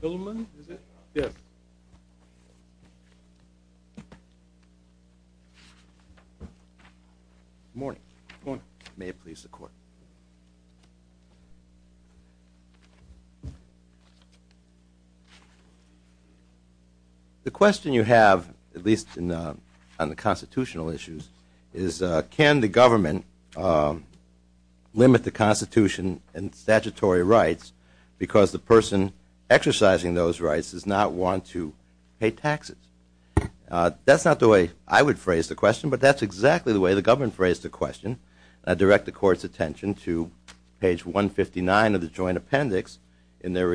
The question you have, at least on the constitutional issues, is can the government limit the Constitution and statutory rights because the person exercising those rights does not want to pay taxes? That's not the way I would phrase the question, but that's exactly the way the government phrased the question. I direct the Court's attention to page 159 of the Joint Appendix in their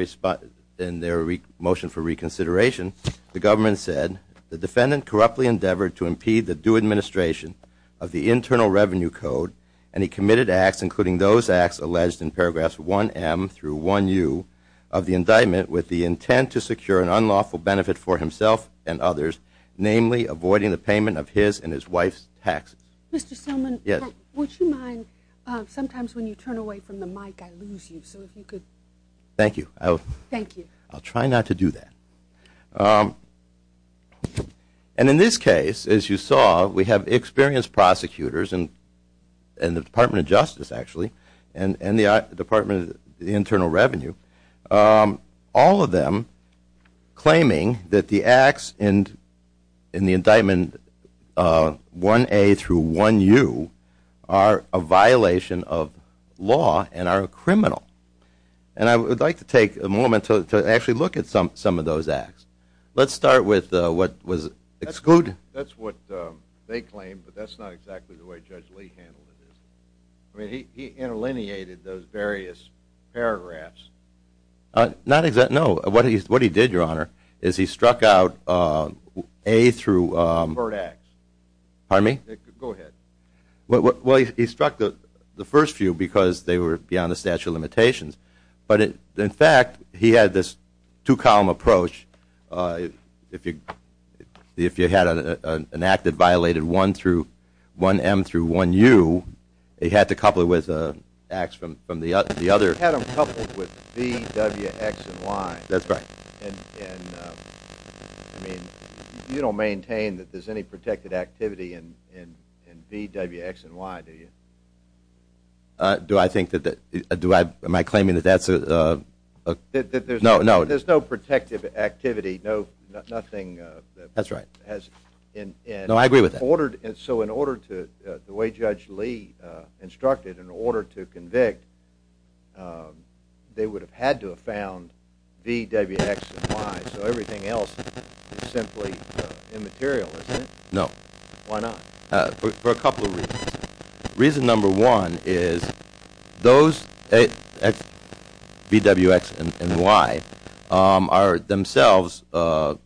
motion for reconsideration. The government said, the defendant corruptly endeavored to impede the due administration of the Internal Revenue Code, and he committed acts, alleged in paragraphs 1M through 1U of the indictment, with the intent to secure an unlawful benefit for himself and others, namely avoiding the payment of his and his wife's taxes. And in this case, as you saw, we have experienced prosecutors in the Department of Justice, actually, and the Department of Internal Revenue, all of them claiming that the acts in the indictment 1A through 1U are a violation of law and are criminal. And I would like to take a moment to actually look at some of those acts. Let's start with what was excluded. That's what they claim, but that's not exactly the way Judge Lee handled it. He interlineated those various paragraphs. Not exactly, no. What he did, Your Honor, is he struck out 1A through 1U. Pardon me? Go ahead. Well, he struck the first few because they were beyond the statute of limitations, but in fact, he had this two-column approach. If you had an act that violated 1M through 1U, he had to couple it with acts from the other. He had them coupled with B, W, X, and Y. That's right. And, I mean, you don't maintain that there's any protected activity in B, W, X, and Y, do you? Do I think that that – am I claiming that that's a – No, no, there's no protective activity, nothing – That's right. No, I agree with that. So in order to – the way Judge Lee instructed, in order to convict, they would have had to have found B, W, X, and Y, so everything else is simply immaterial, isn't it? No. Why not? For a couple of reasons. Reason number one is those B, W, X, and Y are themselves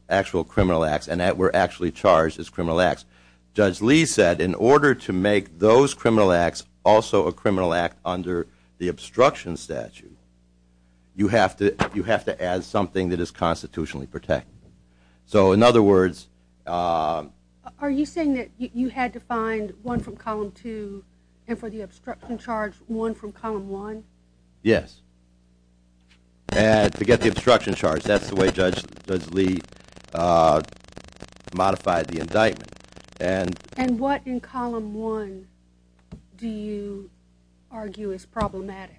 actual criminal acts and were actually charged as criminal acts. Judge Lee said in order to make those criminal acts also a criminal act under the obstruction statute, you have to add something that is constitutionally protected. So in other words – Are you saying that you had to find one from Column 2 and for the obstruction charge, one from Column 1? Yes. And to get the obstruction charge, that's the way Judge Lee modified the indictment. And what in Column 1 do you argue is problematic?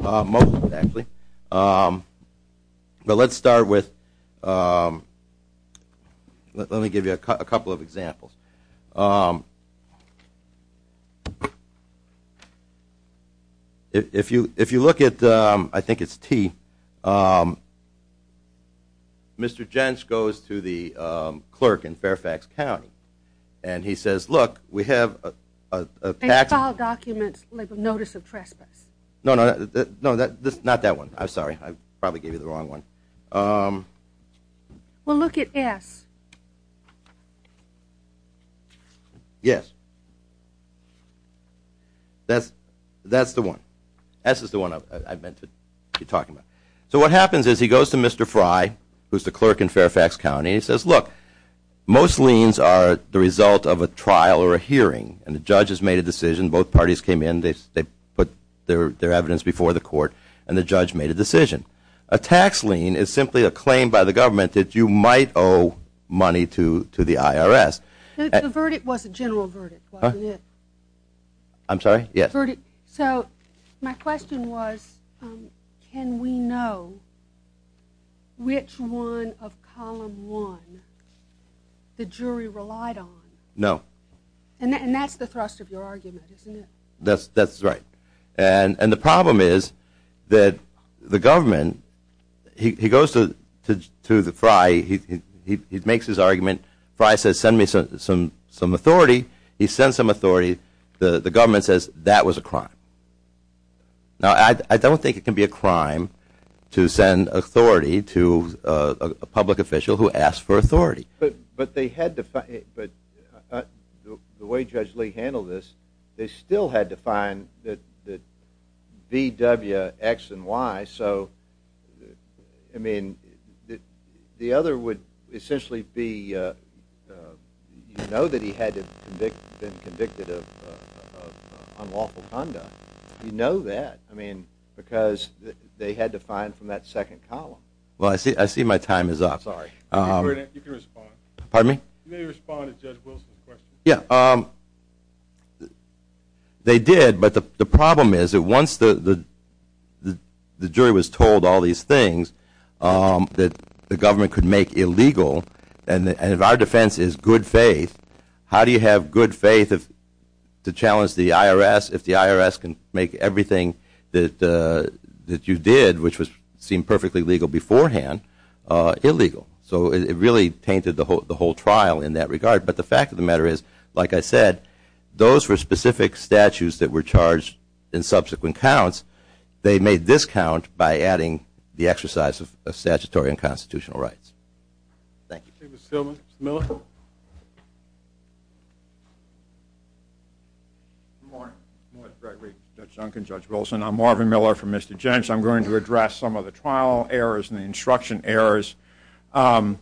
Most of it, actually. But let's start with – let me give you a couple of examples. If you look at – I think it's T – Mr. Jentz goes to the clerk in Fairfax County and he says, Look, we have – They file documents like a notice of trespass. No, not that one. I'm sorry. I probably gave you the wrong one. Well, look at S. Yes. That's the one. S is the one I meant to be talking about. So what happens is he goes to Mr. Fry, who's the clerk in Fairfax County, and he says, Look, most liens are the result of a trial or a hearing. And the judge has made a decision. Both parties came in. They put their evidence before the court and the judge made a decision. A tax lien is simply a claim by the government that you might owe money to the IRS. The verdict was a general verdict, wasn't it? I'm sorry? Yes. So my question was can we know which one of Column 1 the jury relied on? No. And that's the thrust of your argument, isn't it? That's right. And the problem is that the government – he goes to Fry. He makes his argument. Fry says, Send me some authority. He sends some authority. The government says that was a crime. Now, I don't think it can be a crime to send authority to a public official who asks for authority. But they had to – the way Judge Lee handled this, they still had to find the B, W, X, and Y. So, I mean, the other would essentially be you know that he had been convicted of unlawful conduct. You know that. I mean, because they had to find from that second column. Well, I see my time is up. Sorry. You can respond. Pardon me? You may respond to Judge Wilson's question. Yeah. They did, but the problem is that once the jury was told all these things that the government could make illegal, and if our defense is good faith, how do you have good faith to challenge the IRS if the IRS can make everything that you did, which seemed perfectly legal beforehand, illegal? So it really tainted the whole trial in that regard. But the fact of the matter is, like I said, those were specific statutes that were charged in subsequent counts. They made this count by adding the exercise of statutory and constitutional rights. Thank you. Thank you, Mr. Stillman. Mr. Miller? Good morning. Morris Gregory, Judge Duncan, Judge Wilson. I'm Marvin Miller from Mr. Jentz. I'm going to address some of the trial errors and the instruction errors. By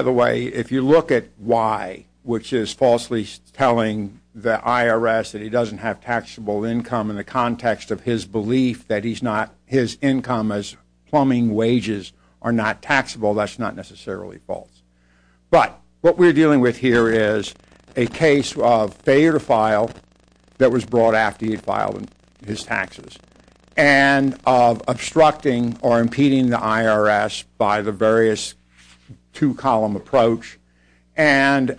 the way, if you look at why, which is falsely telling the IRS that he doesn't have taxable income in the context of his belief that his income as plumbing wages are not taxable, that's not necessarily false. But what we're dealing with here is a case of failure to file that was brought after he filed his taxes and of obstructing or impeding the IRS by the various two-column approach and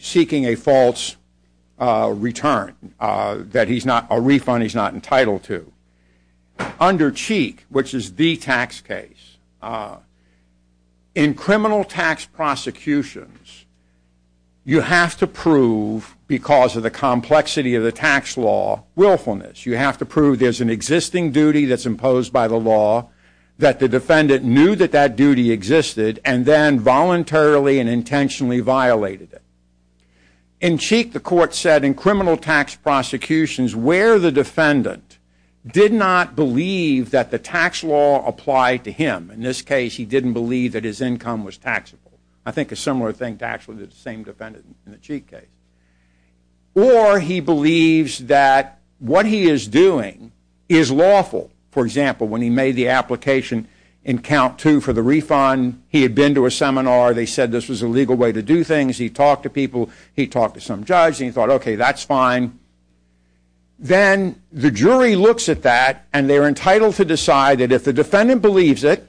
seeking a false return, a refund he's not entitled to. Under Cheek, which is the tax case, in criminal tax prosecutions, you have to prove, because of the complexity of the tax law, willfulness. You have to prove there's an existing duty that's imposed by the law, that the defendant knew that that duty existed and then voluntarily and intentionally violated it. In Cheek, the court said, in criminal tax prosecutions, where the defendant did not believe that the tax law applied to him. In this case, he didn't believe that his income was taxable. I think a similar thing to actually the same defendant in the Cheek case. Or he believes that what he is doing is lawful. For example, when he made the application in count two for the refund, he had been to a seminar, they said this was a legal way to do things, he talked to people, he talked to some judge, and he thought, okay, that's fine. Then the jury looks at that and they're entitled to decide that if the defendant believes it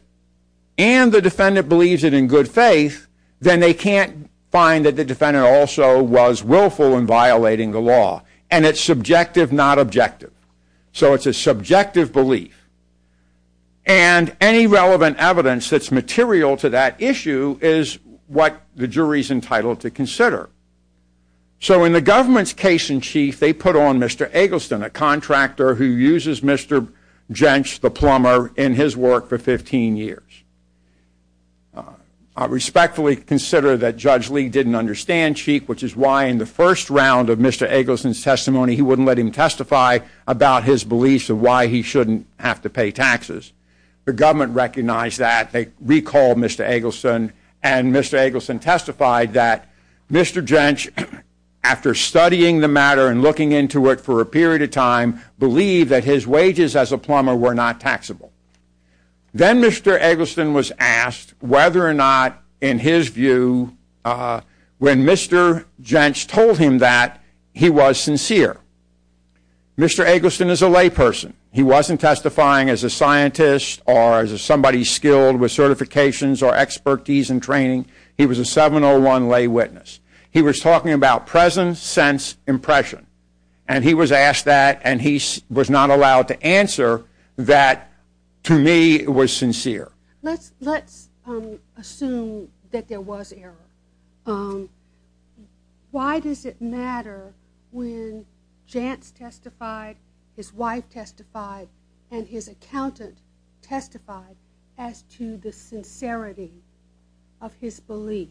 and the defendant believes it in good faith, then they can't find that the defendant also was willful in violating the law. And it's subjective, not objective. So it's a subjective belief. And any relevant evidence that's material to that issue is what the jury's entitled to consider. So in the government's case in Cheek, they put on Mr. Eggleston, a contractor who uses Mr. Jentsch, the plumber, in his work for 15 years. I respectfully consider that Judge Lee didn't understand Cheek, which is why in the first round of Mr. Eggleston's testimony, he wouldn't let him testify about his beliefs of why he shouldn't have to pay taxes. The government recognized that, they recalled Mr. Eggleston, and Mr. Eggleston testified that Mr. Jentsch, after studying the matter and looking into it for a period of time, believed that his wages as a plumber were not taxable. Then Mr. Eggleston was asked whether or not, in his view, when Mr. Jentsch told him that, he was sincere. Mr. Eggleston is a layperson. He wasn't testifying as a scientist or as somebody skilled with certifications or expertise in training. He was a 701 lay witness. He was talking about presence, sense, impression, and he was asked that and he was not allowed to answer that, to me, was sincere. Let's assume that there was error. Why does it matter when Jentsch testified, his wife testified, and his accountant testified as to the sincerity of his belief?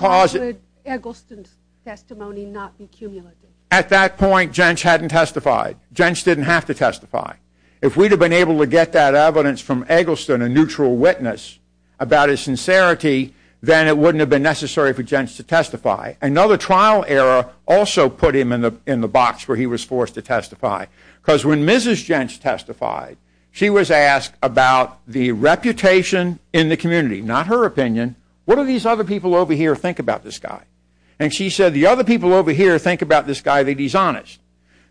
Why would Eggleston's testimony not be cumulative? At that point, Jentsch hadn't testified. Jentsch didn't have to testify. If we'd have been able to get that evidence from Eggleston, a neutral witness, about his sincerity, then it wouldn't have been necessary for Jentsch to testify. Another trial error also put him in the box where he was forced to testify. Because when Mrs. Jentsch testified, she was asked about the reputation in the community, not her opinion. What do these other people over here think about this guy? And she said the other people over here think about this guy that he's honest.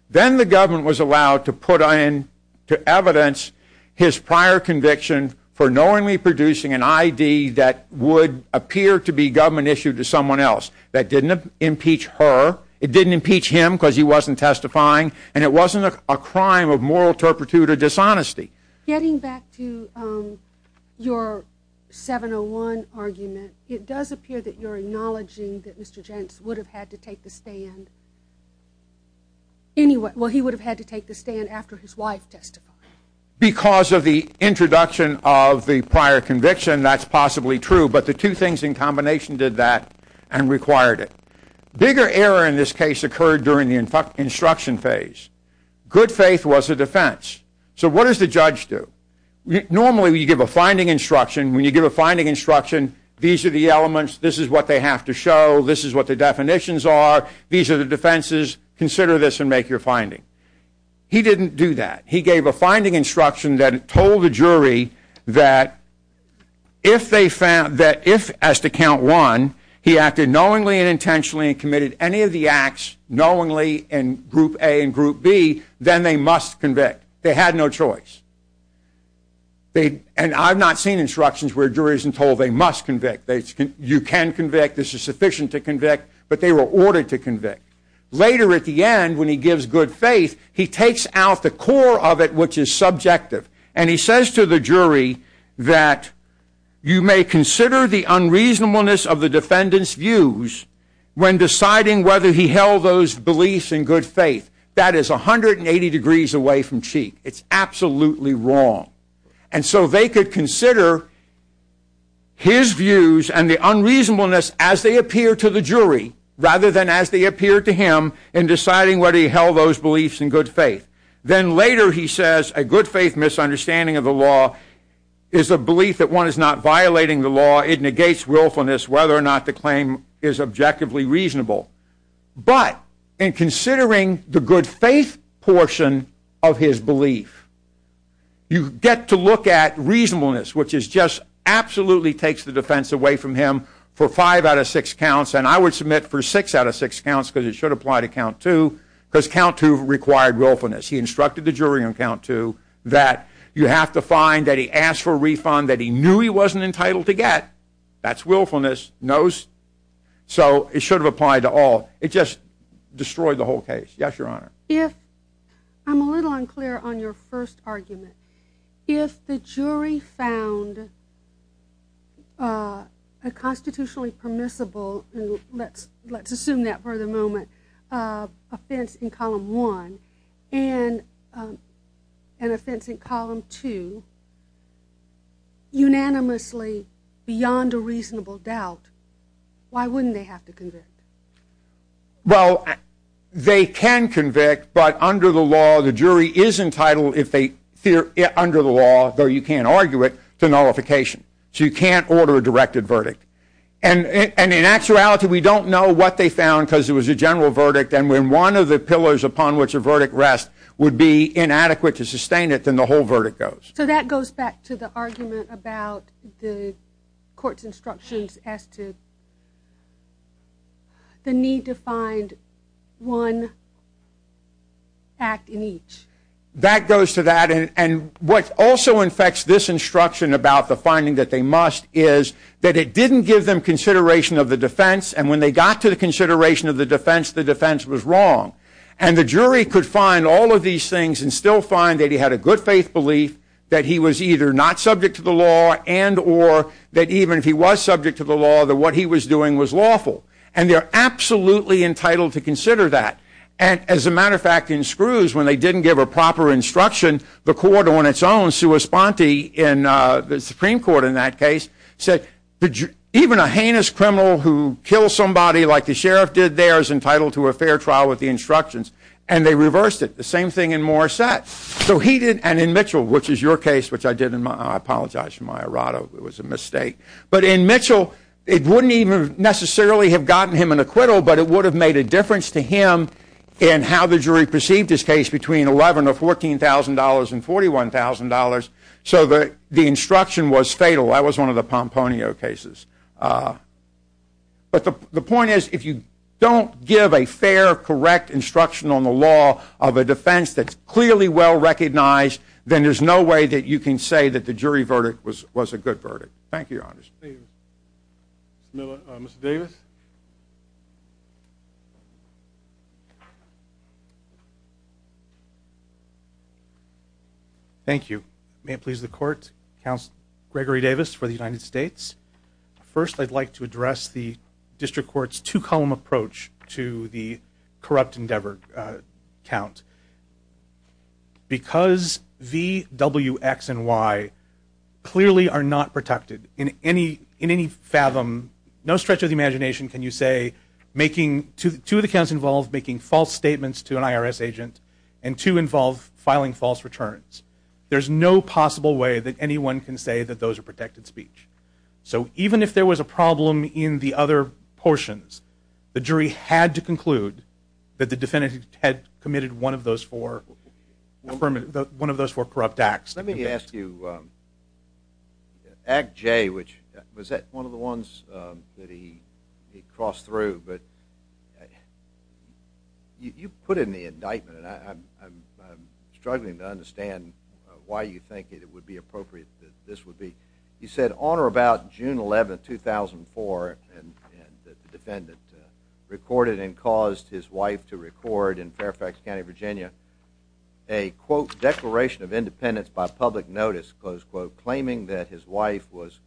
Then the government was allowed to put in to evidence his prior conviction for knowingly producing an ID that would appear to be government issued to someone else. That didn't impeach her. It didn't impeach him because he wasn't testifying, and it wasn't a crime of moral turpitude or dishonesty. Getting back to your 701 argument, it does appear that you're acknowledging that Mr. Jentsch would have had to take the stand. Well, he would have had to take the stand after his wife testified. Because of the introduction of the prior conviction, that's possibly true, but the two things in combination did that and required it. Bigger error in this case occurred during the instruction phase. Good faith was a defense. So what does the judge do? Normally you give a finding instruction. When you give a finding instruction, these are the elements. This is what they have to show. This is what the definitions are. These are the defenses. Consider this and make your finding. He didn't do that. He gave a finding instruction that told the jury that if, as to count one, he acted knowingly and intentionally and committed any of the acts, knowingly in group A and group B, then they must convict. They had no choice. And I've not seen instructions where a jury isn't told they must convict. You can convict. This is sufficient to convict. But they were ordered to convict. Later at the end, when he gives good faith, he takes out the core of it which is subjective. And he says to the jury that you may consider the unreasonableness of the defendant's views when deciding whether he held those beliefs in good faith. That is 180 degrees away from cheek. It's absolutely wrong. And so they could consider his views and the unreasonableness as they appear to the jury rather than as they appear to him in deciding whether he held those beliefs in good faith. Then later he says a good faith misunderstanding of the law is a belief that one is not violating the law. It negates willfulness whether or not the claim is objectively reasonable. But in considering the good faith portion of his belief, you get to look at reasonableness which is just absolutely takes the defense away from him for five out of six counts. And I would submit for six out of six counts because it should apply to count two because count two required willfulness. He instructed the jury on count two that you have to find that he asked for a refund that he knew he wasn't entitled to get. That's willfulness. So it should have applied to all. It just destroyed the whole case. Yes, Your Honor. I'm a little unclear on your first argument. If the jury found a constitutionally permissible, and let's assume that for the moment, offense in column one and an offense in column two unanimously beyond a reasonable doubt, why wouldn't they have to convict? Well, they can convict, but under the law the jury is entitled if they fear under the law, though you can't argue it, to nullification. So you can't order a directed verdict. And in actuality we don't know what they found because it was a general verdict and when one of the pillars upon which a verdict rests would be inadequate to sustain it, then the whole verdict goes. So that goes back to the argument about the court's instructions as to the need to find one act in each. That goes to that. And what also infects this instruction about the finding that they must is that it didn't give them consideration of the defense and when they got to the consideration of the defense, the defense was wrong. And the jury could find all of these things and still find that he had a good faith belief, that he was either not subject to the law and or that even if he was subject to the law, that what he was doing was lawful. And they're absolutely entitled to consider that. And as a matter of fact, in Screws, when they didn't give a proper instruction, the court on its own, Sua Sponti in the Supreme Court in that case, said even a heinous criminal who kills somebody like the sheriff did there is entitled to a fair trial with the instructions. And they reversed it. The same thing in Morissette. And in Mitchell, which is your case, which I did, I apologize for my errata, it was a mistake. But in Mitchell, it wouldn't even necessarily have gotten him an acquittal, but it would have made a difference to him in how the jury perceived his case between $11,000 or $14,000 and $41,000. So the instruction was fatal. That was one of the Pomponio cases. But the point is, if you don't give a fair, correct instruction on the law of a defense that's clearly well recognized, then there's no way that you can say that the jury verdict was a good verdict. Thank you, Your Honors. Mr. Davis? Thank you. May it please the Court, Counsel Gregory Davis for the United States. First, I'd like to address the District Court's two-column approach to the corrupt endeavor count. Because V, W, X, and Y clearly are not protected in any fathom, no stretch of the imagination can you say, two of the counts involve making false statements to an IRS agent, and two involve filing false returns. There's no possible way that anyone can say that those are protected speech. So even if there was a problem in the other portions, the jury had to conclude that the defendant had committed one of those four corrupt acts. Let me ask you, Act J, which was one of the ones that he crossed through, but you put in the indictment, and I'm struggling to understand why you think it would be appropriate that this would be. You said on or about June 11, 2004, the defendant recorded and caused his wife to record in Fairfax County, Virginia, a, quote, declaration of independence by public notice, close quote, claiming that his wife was,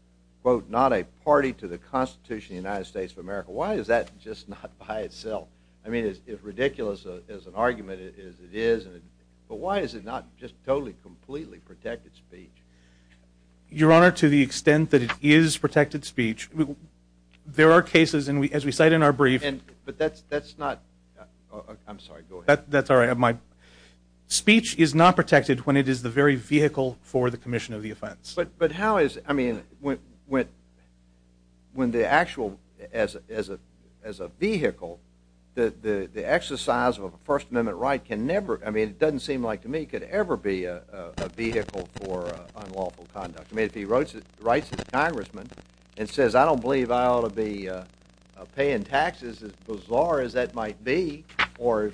quote, not a party to the Constitution of the United States of America. Why is that just not by itself? I mean, it's ridiculous as an argument as it is, but why is it not just totally, completely protected speech? Your Honor, to the extent that it is protected speech, there are cases, as we cite in our brief. But that's not – I'm sorry, go ahead. That's all right. Speech is not protected when it is the very vehicle for the commission of the offense. But how is – I mean, when the actual – as a vehicle, the exercise of a First Amendment right can never – I mean, it doesn't seem like to me it could ever be a vehicle for unlawful conduct. I mean, if he writes his congressman and says, I don't believe I ought to be paying taxes, as bizarre as that might be, or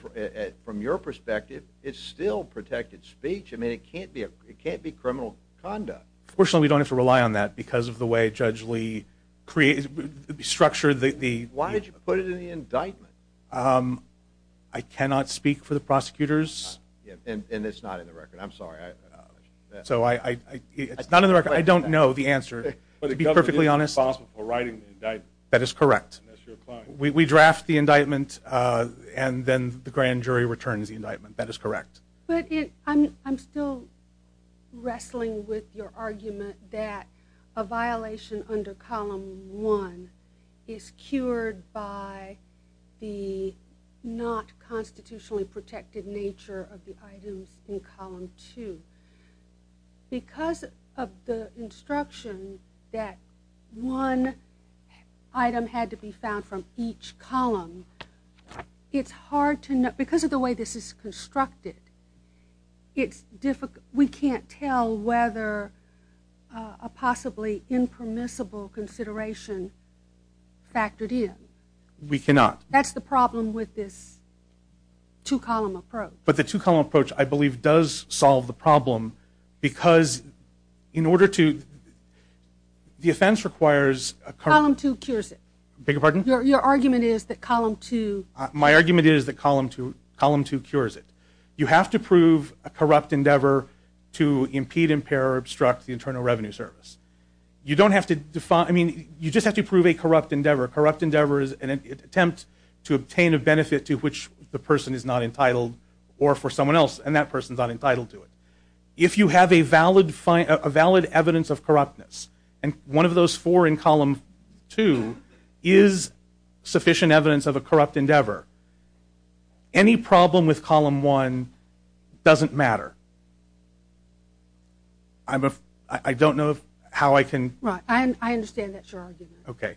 from your perspective, it's still protected speech. I mean, it can't be criminal conduct. Unfortunately, we don't have to rely on that because of the way Judge Lee structured the – Why did you put it in the indictment? I cannot speak for the prosecutors. And it's not in the record. I'm sorry. So I – it's not in the record. I don't know the answer, to be perfectly honest. But the government is responsible for writing the indictment. That is correct. And that's your client. We draft the indictment, and then the grand jury returns the indictment. That is correct. But I'm still wrestling with your argument that a violation under Column 1 is cured by the not constitutionally protected nature of the items in Column 2. Because of the instruction that one item had to be found from each column, it's hard to – because of the way this is constructed, it's difficult – we can't tell whether a possibly impermissible consideration factored in. We cannot. That's the problem with this two-column approach. But the two-column approach, I believe, does solve the problem because in order to – the offense requires a – Column 2 cures it. Beg your pardon? Your argument is that Column 2 – you have to prove a corrupt endeavor to impede, impair, or obstruct the Internal Revenue Service. You don't have to – I mean, you just have to prove a corrupt endeavor. A corrupt endeavor is an attempt to obtain a benefit to which the person is not entitled or for someone else, and that person is not entitled to it. If you have a valid evidence of corruptness, and one of those four in Column 2 is sufficient evidence of a corrupt endeavor, any problem with Column 1 doesn't matter. I don't know how I can – Right. I understand that your argument. Okay.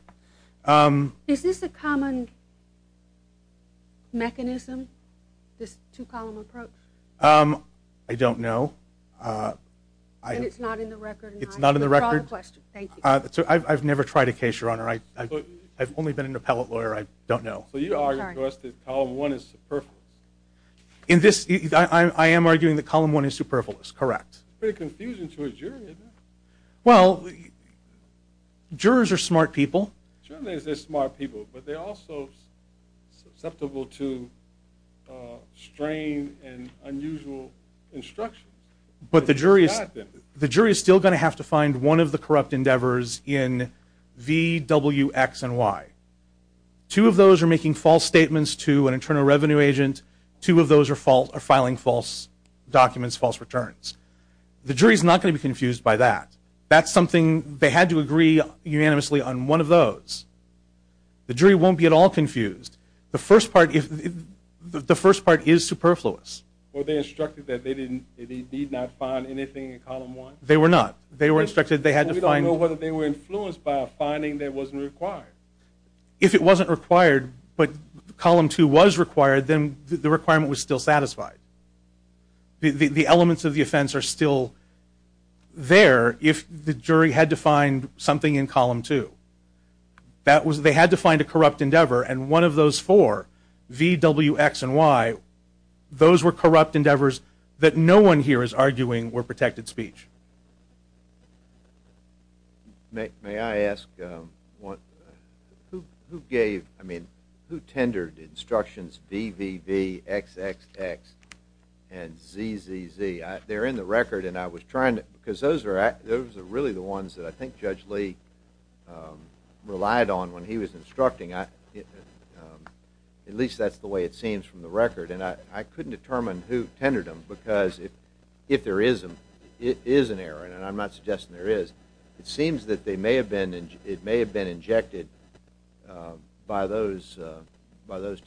Is this a common mechanism, this two-column approach? I don't know. And it's not in the record? It's not in the record. Thank you. I've never tried a case, Your Honor. I've only been an appellate lawyer. I don't know. So you argue, of course, that Column 1 is superfluous? In this – I am arguing that Column 1 is superfluous, correct. Pretty confusing to a jury, isn't it? Well, jurors are smart people. Sure, they're smart people, but they're also susceptible to strain and unusual instruction. But the jury is still going to have to find one of the corrupt endeavors in V, W, X, and Y. Two of those are making false statements to an internal revenue agent. Two of those are filing false documents, false returns. The jury is not going to be confused by that. That's something – they had to agree unanimously on one of those. The jury won't be at all confused. The first part is superfluous. Were they instructed that they did not find anything in Column 1? They were not. They were instructed they had to find – if it wasn't required, but Column 2 was required, then the requirement was still satisfied. The elements of the offense are still there if the jury had to find something in Column 2. That was – they had to find a corrupt endeavor, and one of those four, V, W, X, and Y, those were corrupt endeavors that no one here is arguing were protected speech. May I ask who gave – I mean, who tendered instructions V, V, V, X, X, X, and Z, Z, Z? They're in the record, and I was trying to – because those are really the ones that I think Judge Lee relied on when he was instructing. At least that's the way it seems from the record, and I couldn't determine who tendered them because if there is an error, and I'm not suggesting there is, it seems that they may have been – it may have been injected by those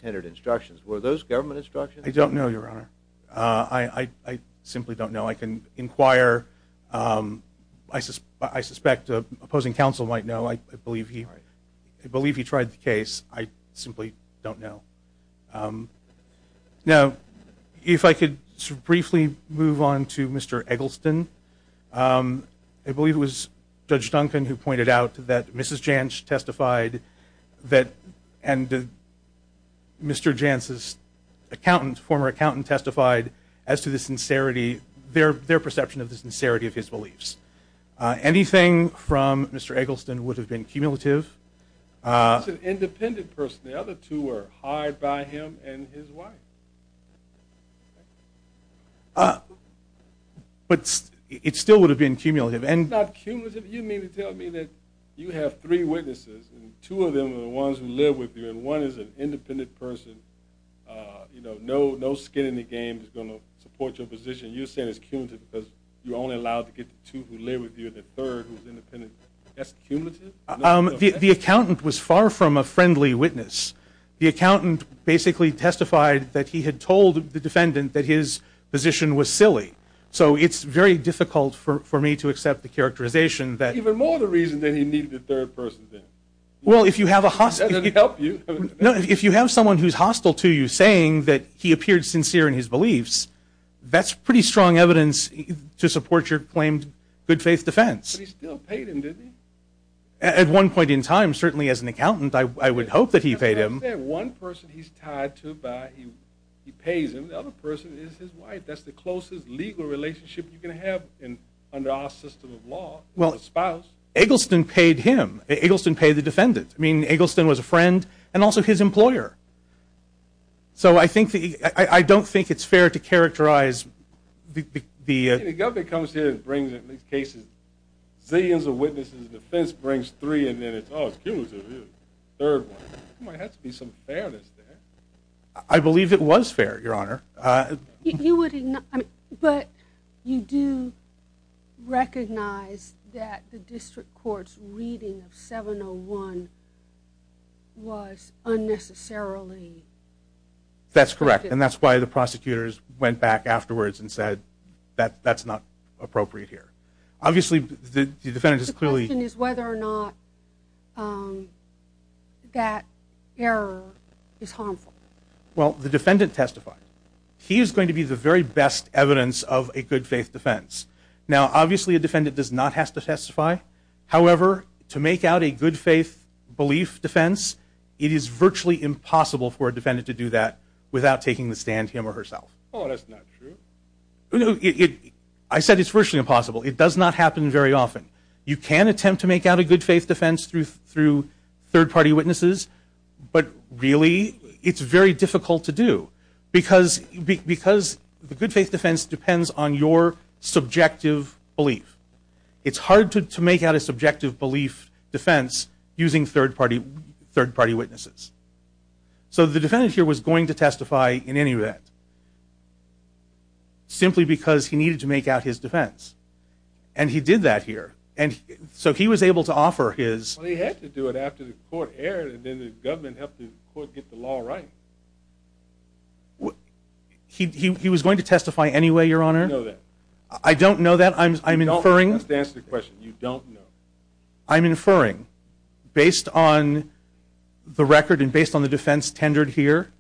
tendered instructions. Were those government instructions? I don't know, Your Honor. I simply don't know. I can inquire. I suspect opposing counsel might know. I believe he tried the case. I simply don't know. Now, if I could briefly move on to Mr. Eggleston. I believe it was Judge Duncan who pointed out that Mrs. Jantz testified that – and Mr. Jantz's accountant, former accountant, testified as to the sincerity, their perception of the sincerity of his beliefs. Anything from Mr. Eggleston would have been cumulative. That's an independent person. The other two were hired by him and his wife. But it still would have been cumulative. It's not cumulative. You mean to tell me that you have three witnesses, and two of them are the ones who live with you, and one is an independent person, no skin in the game is going to support your position. You're saying it's cumulative because you're only allowed to get the two who live with you and the third who's independent. That's cumulative? The accountant was far from a friendly witness. The accountant basically testified that he had told the defendant that his position was silly. So it's very difficult for me to accept the characterization that – Even more the reason that he needed a third person. Well, if you have a – I didn't help you. No, if you have someone who's hostile to you saying that he appeared sincere in his beliefs, that's pretty strong evidence to support your claimed good faith defense. But he still paid him, didn't he? At one point in time, certainly as an accountant, I would hope that he paid him. One person he's tied to by – he pays him. The other person is his wife. That's the closest legal relationship you can have under our system of law is a spouse. Eggleston paid him. Eggleston paid the defendant. I mean, Eggleston was a friend and also his employer. So I think the – I don't think it's fair to characterize the – I mean, the government comes here and brings at least cases – zillions of witnesses in defense, brings three, and then it's, oh, it's cumulative. Third one. There might have to be some fairness there. I believe it was fair, Your Honor. You would – but you do recognize that the district court's reading of 701 was unnecessarily – That's correct, and that's why the prosecutors went back afterwards and said that that's not appropriate here. Obviously, the defendant is clearly – The question is whether or not that error is harmful. Well, the defendant testified. He is going to be the very best evidence of a good faith defense. However, to make out a good faith belief defense, it is virtually impossible for a defendant to do that without taking the stand him or herself. Oh, that's not true. I said it's virtually impossible. It does not happen very often. You can attempt to make out a good faith defense through third-party witnesses, but really it's very difficult to do because the good faith defense depends on your subjective belief. It's hard to make out a subjective belief defense using third-party witnesses. So the defendant here was going to testify in any event simply because he needed to make out his defense, and he did that here. So he was able to offer his – Well, he had to do it after the court erred, and then the government helped the court get the law right. He was going to testify anyway, Your Honor? I don't know that. I'm inferring. You don't know. I'm inferring. Based on the record and based on the defense tendered here,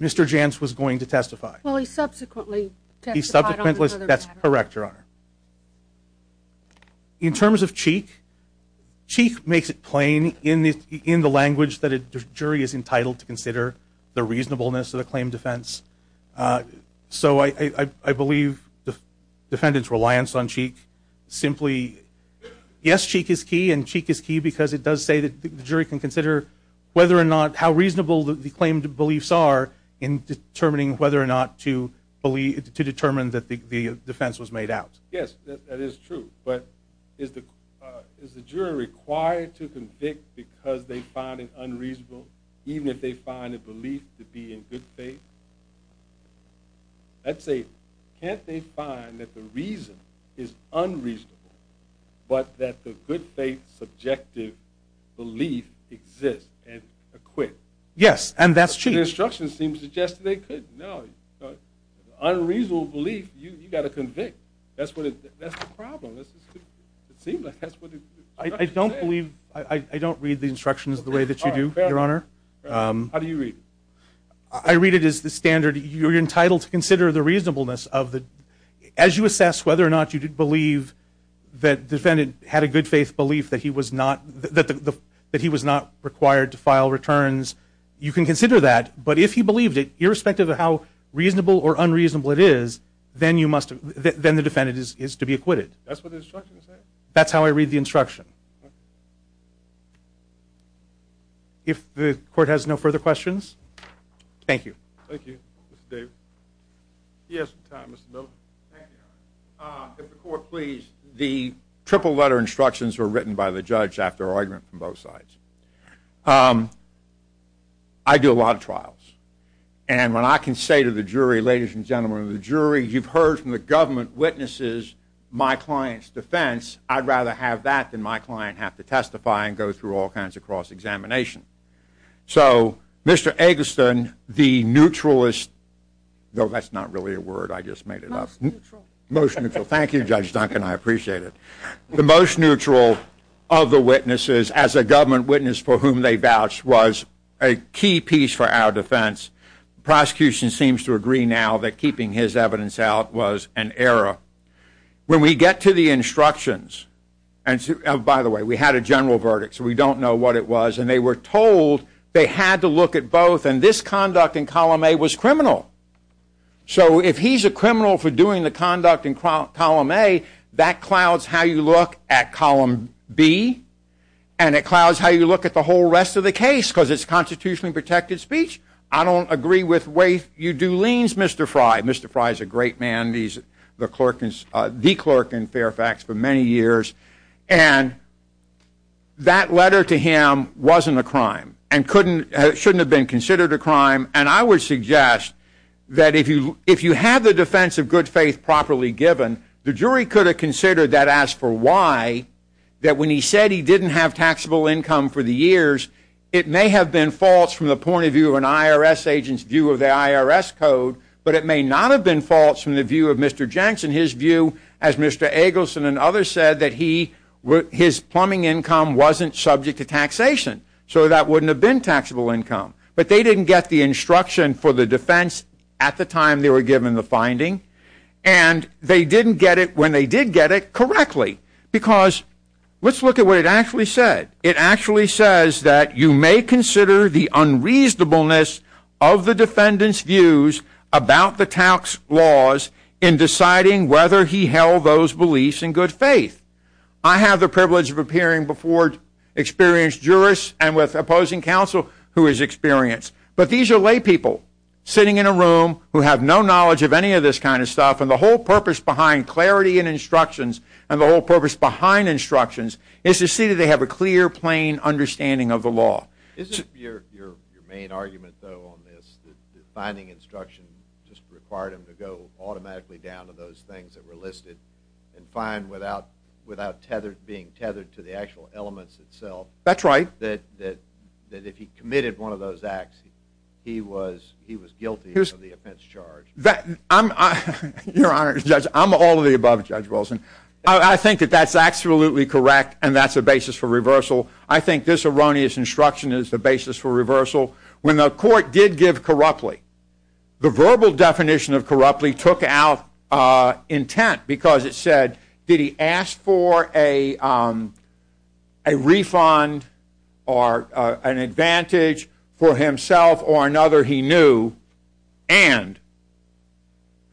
Mr. Jantz was going to testify. Well, he subsequently testified on another matter. That's correct, Your Honor. In terms of Cheek, Cheek makes it plain in the language that a jury is entitled to consider, the reasonableness of the claim defense. So I believe the defendant's reliance on Cheek simply – yes, Cheek is key, and Cheek is key because it does say that the jury can consider whether or not – how reasonable the claimed beliefs are in determining whether or not to believe – to determine that the defense was made out. Yes, that is true. But is the jury required to convict because they find it unreasonable, even if they find a belief to be in good faith? That's a – can't they find that the reason is unreasonable, but that the good faith subjective belief exists and acquits? Yes, and that's Cheek. The instructions seem to suggest that they could. No, unreasonable belief, you've got to convict. That's the problem. It seems like that's what the instructions say. I don't believe – I don't read the instructions the way that you do, Your Honor. How do you read it? I read it as the standard, you're entitled to consider the reasonableness of the – as you assess whether or not you believe that the defendant had a good faith belief that he was not – that he was not required to file returns, you can consider that. But if he believed it, irrespective of how reasonable or unreasonable it is, then you must – then the defendant is to be acquitted. That's what the instructions say? That's how I read the instruction. If the court has no further questions. Thank you. Thank you. Mr. Davis. He has some time, Mr. Miller. Thank you, Your Honor. If the court please, the triple letter instructions were written by the judge after argument from both sides. I do a lot of trials. And when I can say to the jury, ladies and gentlemen of the jury, you've heard from the government witnesses my client's defense. I'd rather have that than my client have to testify and go through all kinds of cross-examination. So, Mr. Eggleston, the neutralist – no, that's not really a word. I just made it up. Most neutral. Most neutral. Thank you, Judge Duncan. I appreciate it. The most neutral of the witnesses as a government witness for whom they vouched was a key piece for our defense. The prosecution seems to agree now that keeping his evidence out was an error. When we get to the instructions – and, by the way, we had a general verdict, so we don't know what it was. And they were told they had to look at both. And this conduct in column A was criminal. So, if he's a criminal for doing the conduct in column A, that clouds how you look at column B. And it clouds how you look at the whole rest of the case because it's constitutionally protected speech. I don't agree with the way you do liens, Mr. Fry. Mr. Fry is a great man. He's the clerk in Fairfax for many years. And that letter to him wasn't a crime and shouldn't have been considered a crime. And I would suggest that if you have the defense of good faith properly given, the jury could have considered that as for why, that when he said he didn't have taxable income for the years, it may have been false from the point of view of an IRS agent's view of the IRS code, but it may not have been false from the view of Mr. Jenks and his view, as Mr. Eggleston and others said, that his plumbing income wasn't subject to taxation. So that wouldn't have been taxable income. But they didn't get the instruction for the defense at the time they were given the finding. And they didn't get it when they did get it correctly. Because let's look at what it actually said. It actually says that you may consider the unreasonableness of the defendant's views about the tax laws in deciding whether he held those beliefs in good faith. I have the privilege of appearing before experienced jurists and with opposing counsel who is experienced. But these are lay people sitting in a room who have no knowledge of any of this kind of stuff. And the whole purpose behind clarity and instructions and the whole purpose behind instructions is to see that they have a clear, plain understanding of the law. Isn't your main argument, though, on this, that finding instruction just required him to go automatically down to those things that were listed and find without being tethered to the actual elements itself? That's right. That if he committed one of those acts, he was guilty of the offense charged? Your Honor, Judge, I'm all of the above, Judge Wilson. I think that that's absolutely correct and that's a basis for reversal. I think this erroneous instruction is the basis for reversal. When the court did give corruptly, the verbal definition of corruptly took out intent because it said, did he ask for a refund or an advantage for himself or another he knew and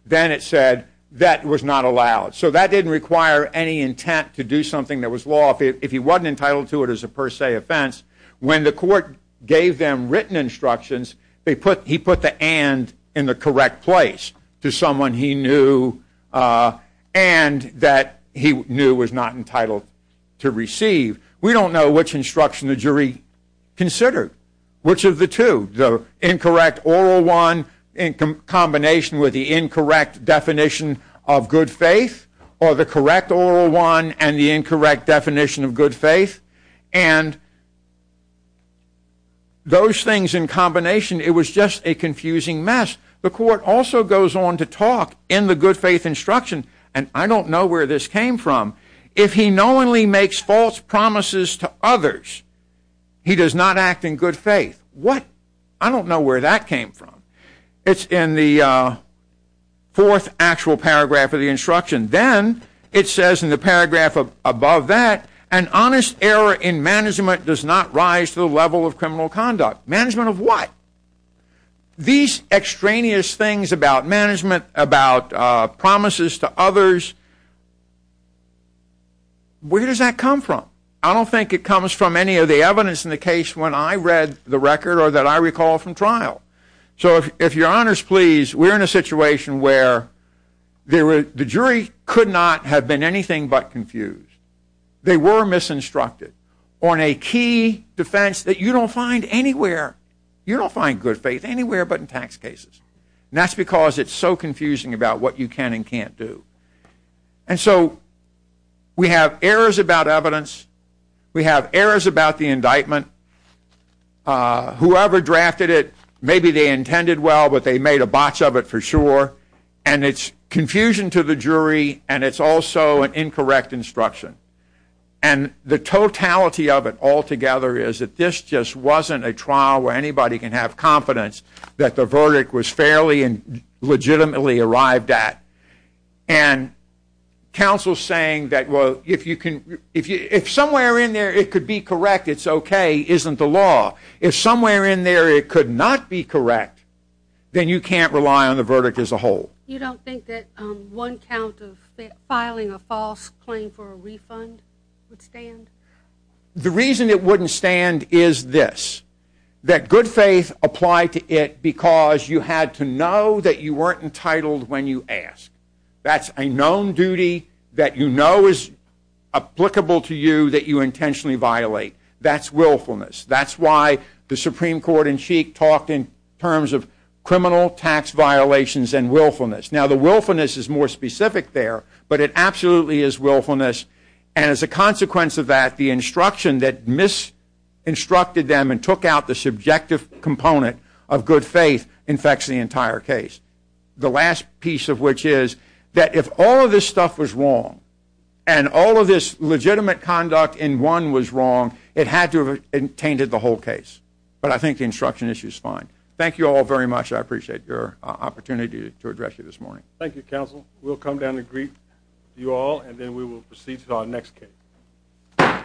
then it said that was not allowed. So that didn't require any intent to do something that was law. If he wasn't entitled to it, it was a per se offense. When the court gave them written instructions, he put the and in the correct place to someone he knew and that he knew was not entitled to receive. We don't know which instruction the jury considered. Which of the two? The incorrect oral one in combination with the incorrect definition of good faith or the correct oral one and the incorrect definition of good faith? And those things in combination, it was just a confusing mess. The court also goes on to talk in the good faith instruction and I don't know where this came from. If he knowingly makes false promises to others, he does not act in good faith. What? I don't know where that came from. It's in the fourth actual paragraph of the instruction. Then it says in the paragraph above that, an honest error in management does not rise to the level of criminal conduct. Management of what? These extraneous things about management, about promises to others, where does that come from? I don't think it comes from any of the evidence in the case when I read the record or that I recall from trial. So if your honors please, we are in a situation where the jury could not have been anything but confused. They were misinstructed on a key defense that you don't find anywhere. You don't find good faith anywhere but in tax cases. And that's because it's so confusing about what you can and can't do. And so we have errors about evidence. We have errors about the indictment. Whoever drafted it, maybe they intended well, but they made a botch of it for sure. And it's confusion to the jury and it's also an incorrect instruction. And the totality of it altogether is that this just wasn't a trial where anybody can have confidence that the verdict was fairly and legitimately arrived at. And counsel is saying that if somewhere in there it could be correct, it's okay, isn't the law. If somewhere in there it could not be correct, then you can't rely on the verdict as a whole. You don't think that one count of filing a false claim for a refund would stand? The reason it wouldn't stand is this. That good faith applied to it because you had to know that you weren't entitled when you asked. That's a known duty that you know is applicable to you that you intentionally violate. That's willfulness. That's why the Supreme Court in Sheik talked in terms of criminal tax violations and willfulness. Now, the willfulness is more specific there, but it absolutely is willfulness. And as a consequence of that, the instruction that misinstructed them and took out the subjective component of good faith infects the entire case. The last piece of which is that if all of this stuff was wrong and all of this legitimate conduct in one was wrong, it had to have tainted the whole case. But I think the instruction issue is fine. Thank you all very much. I appreciate your opportunity to address you this morning. Thank you, counsel. We'll come down to greet you all, and then we will proceed to our next case. Thank you.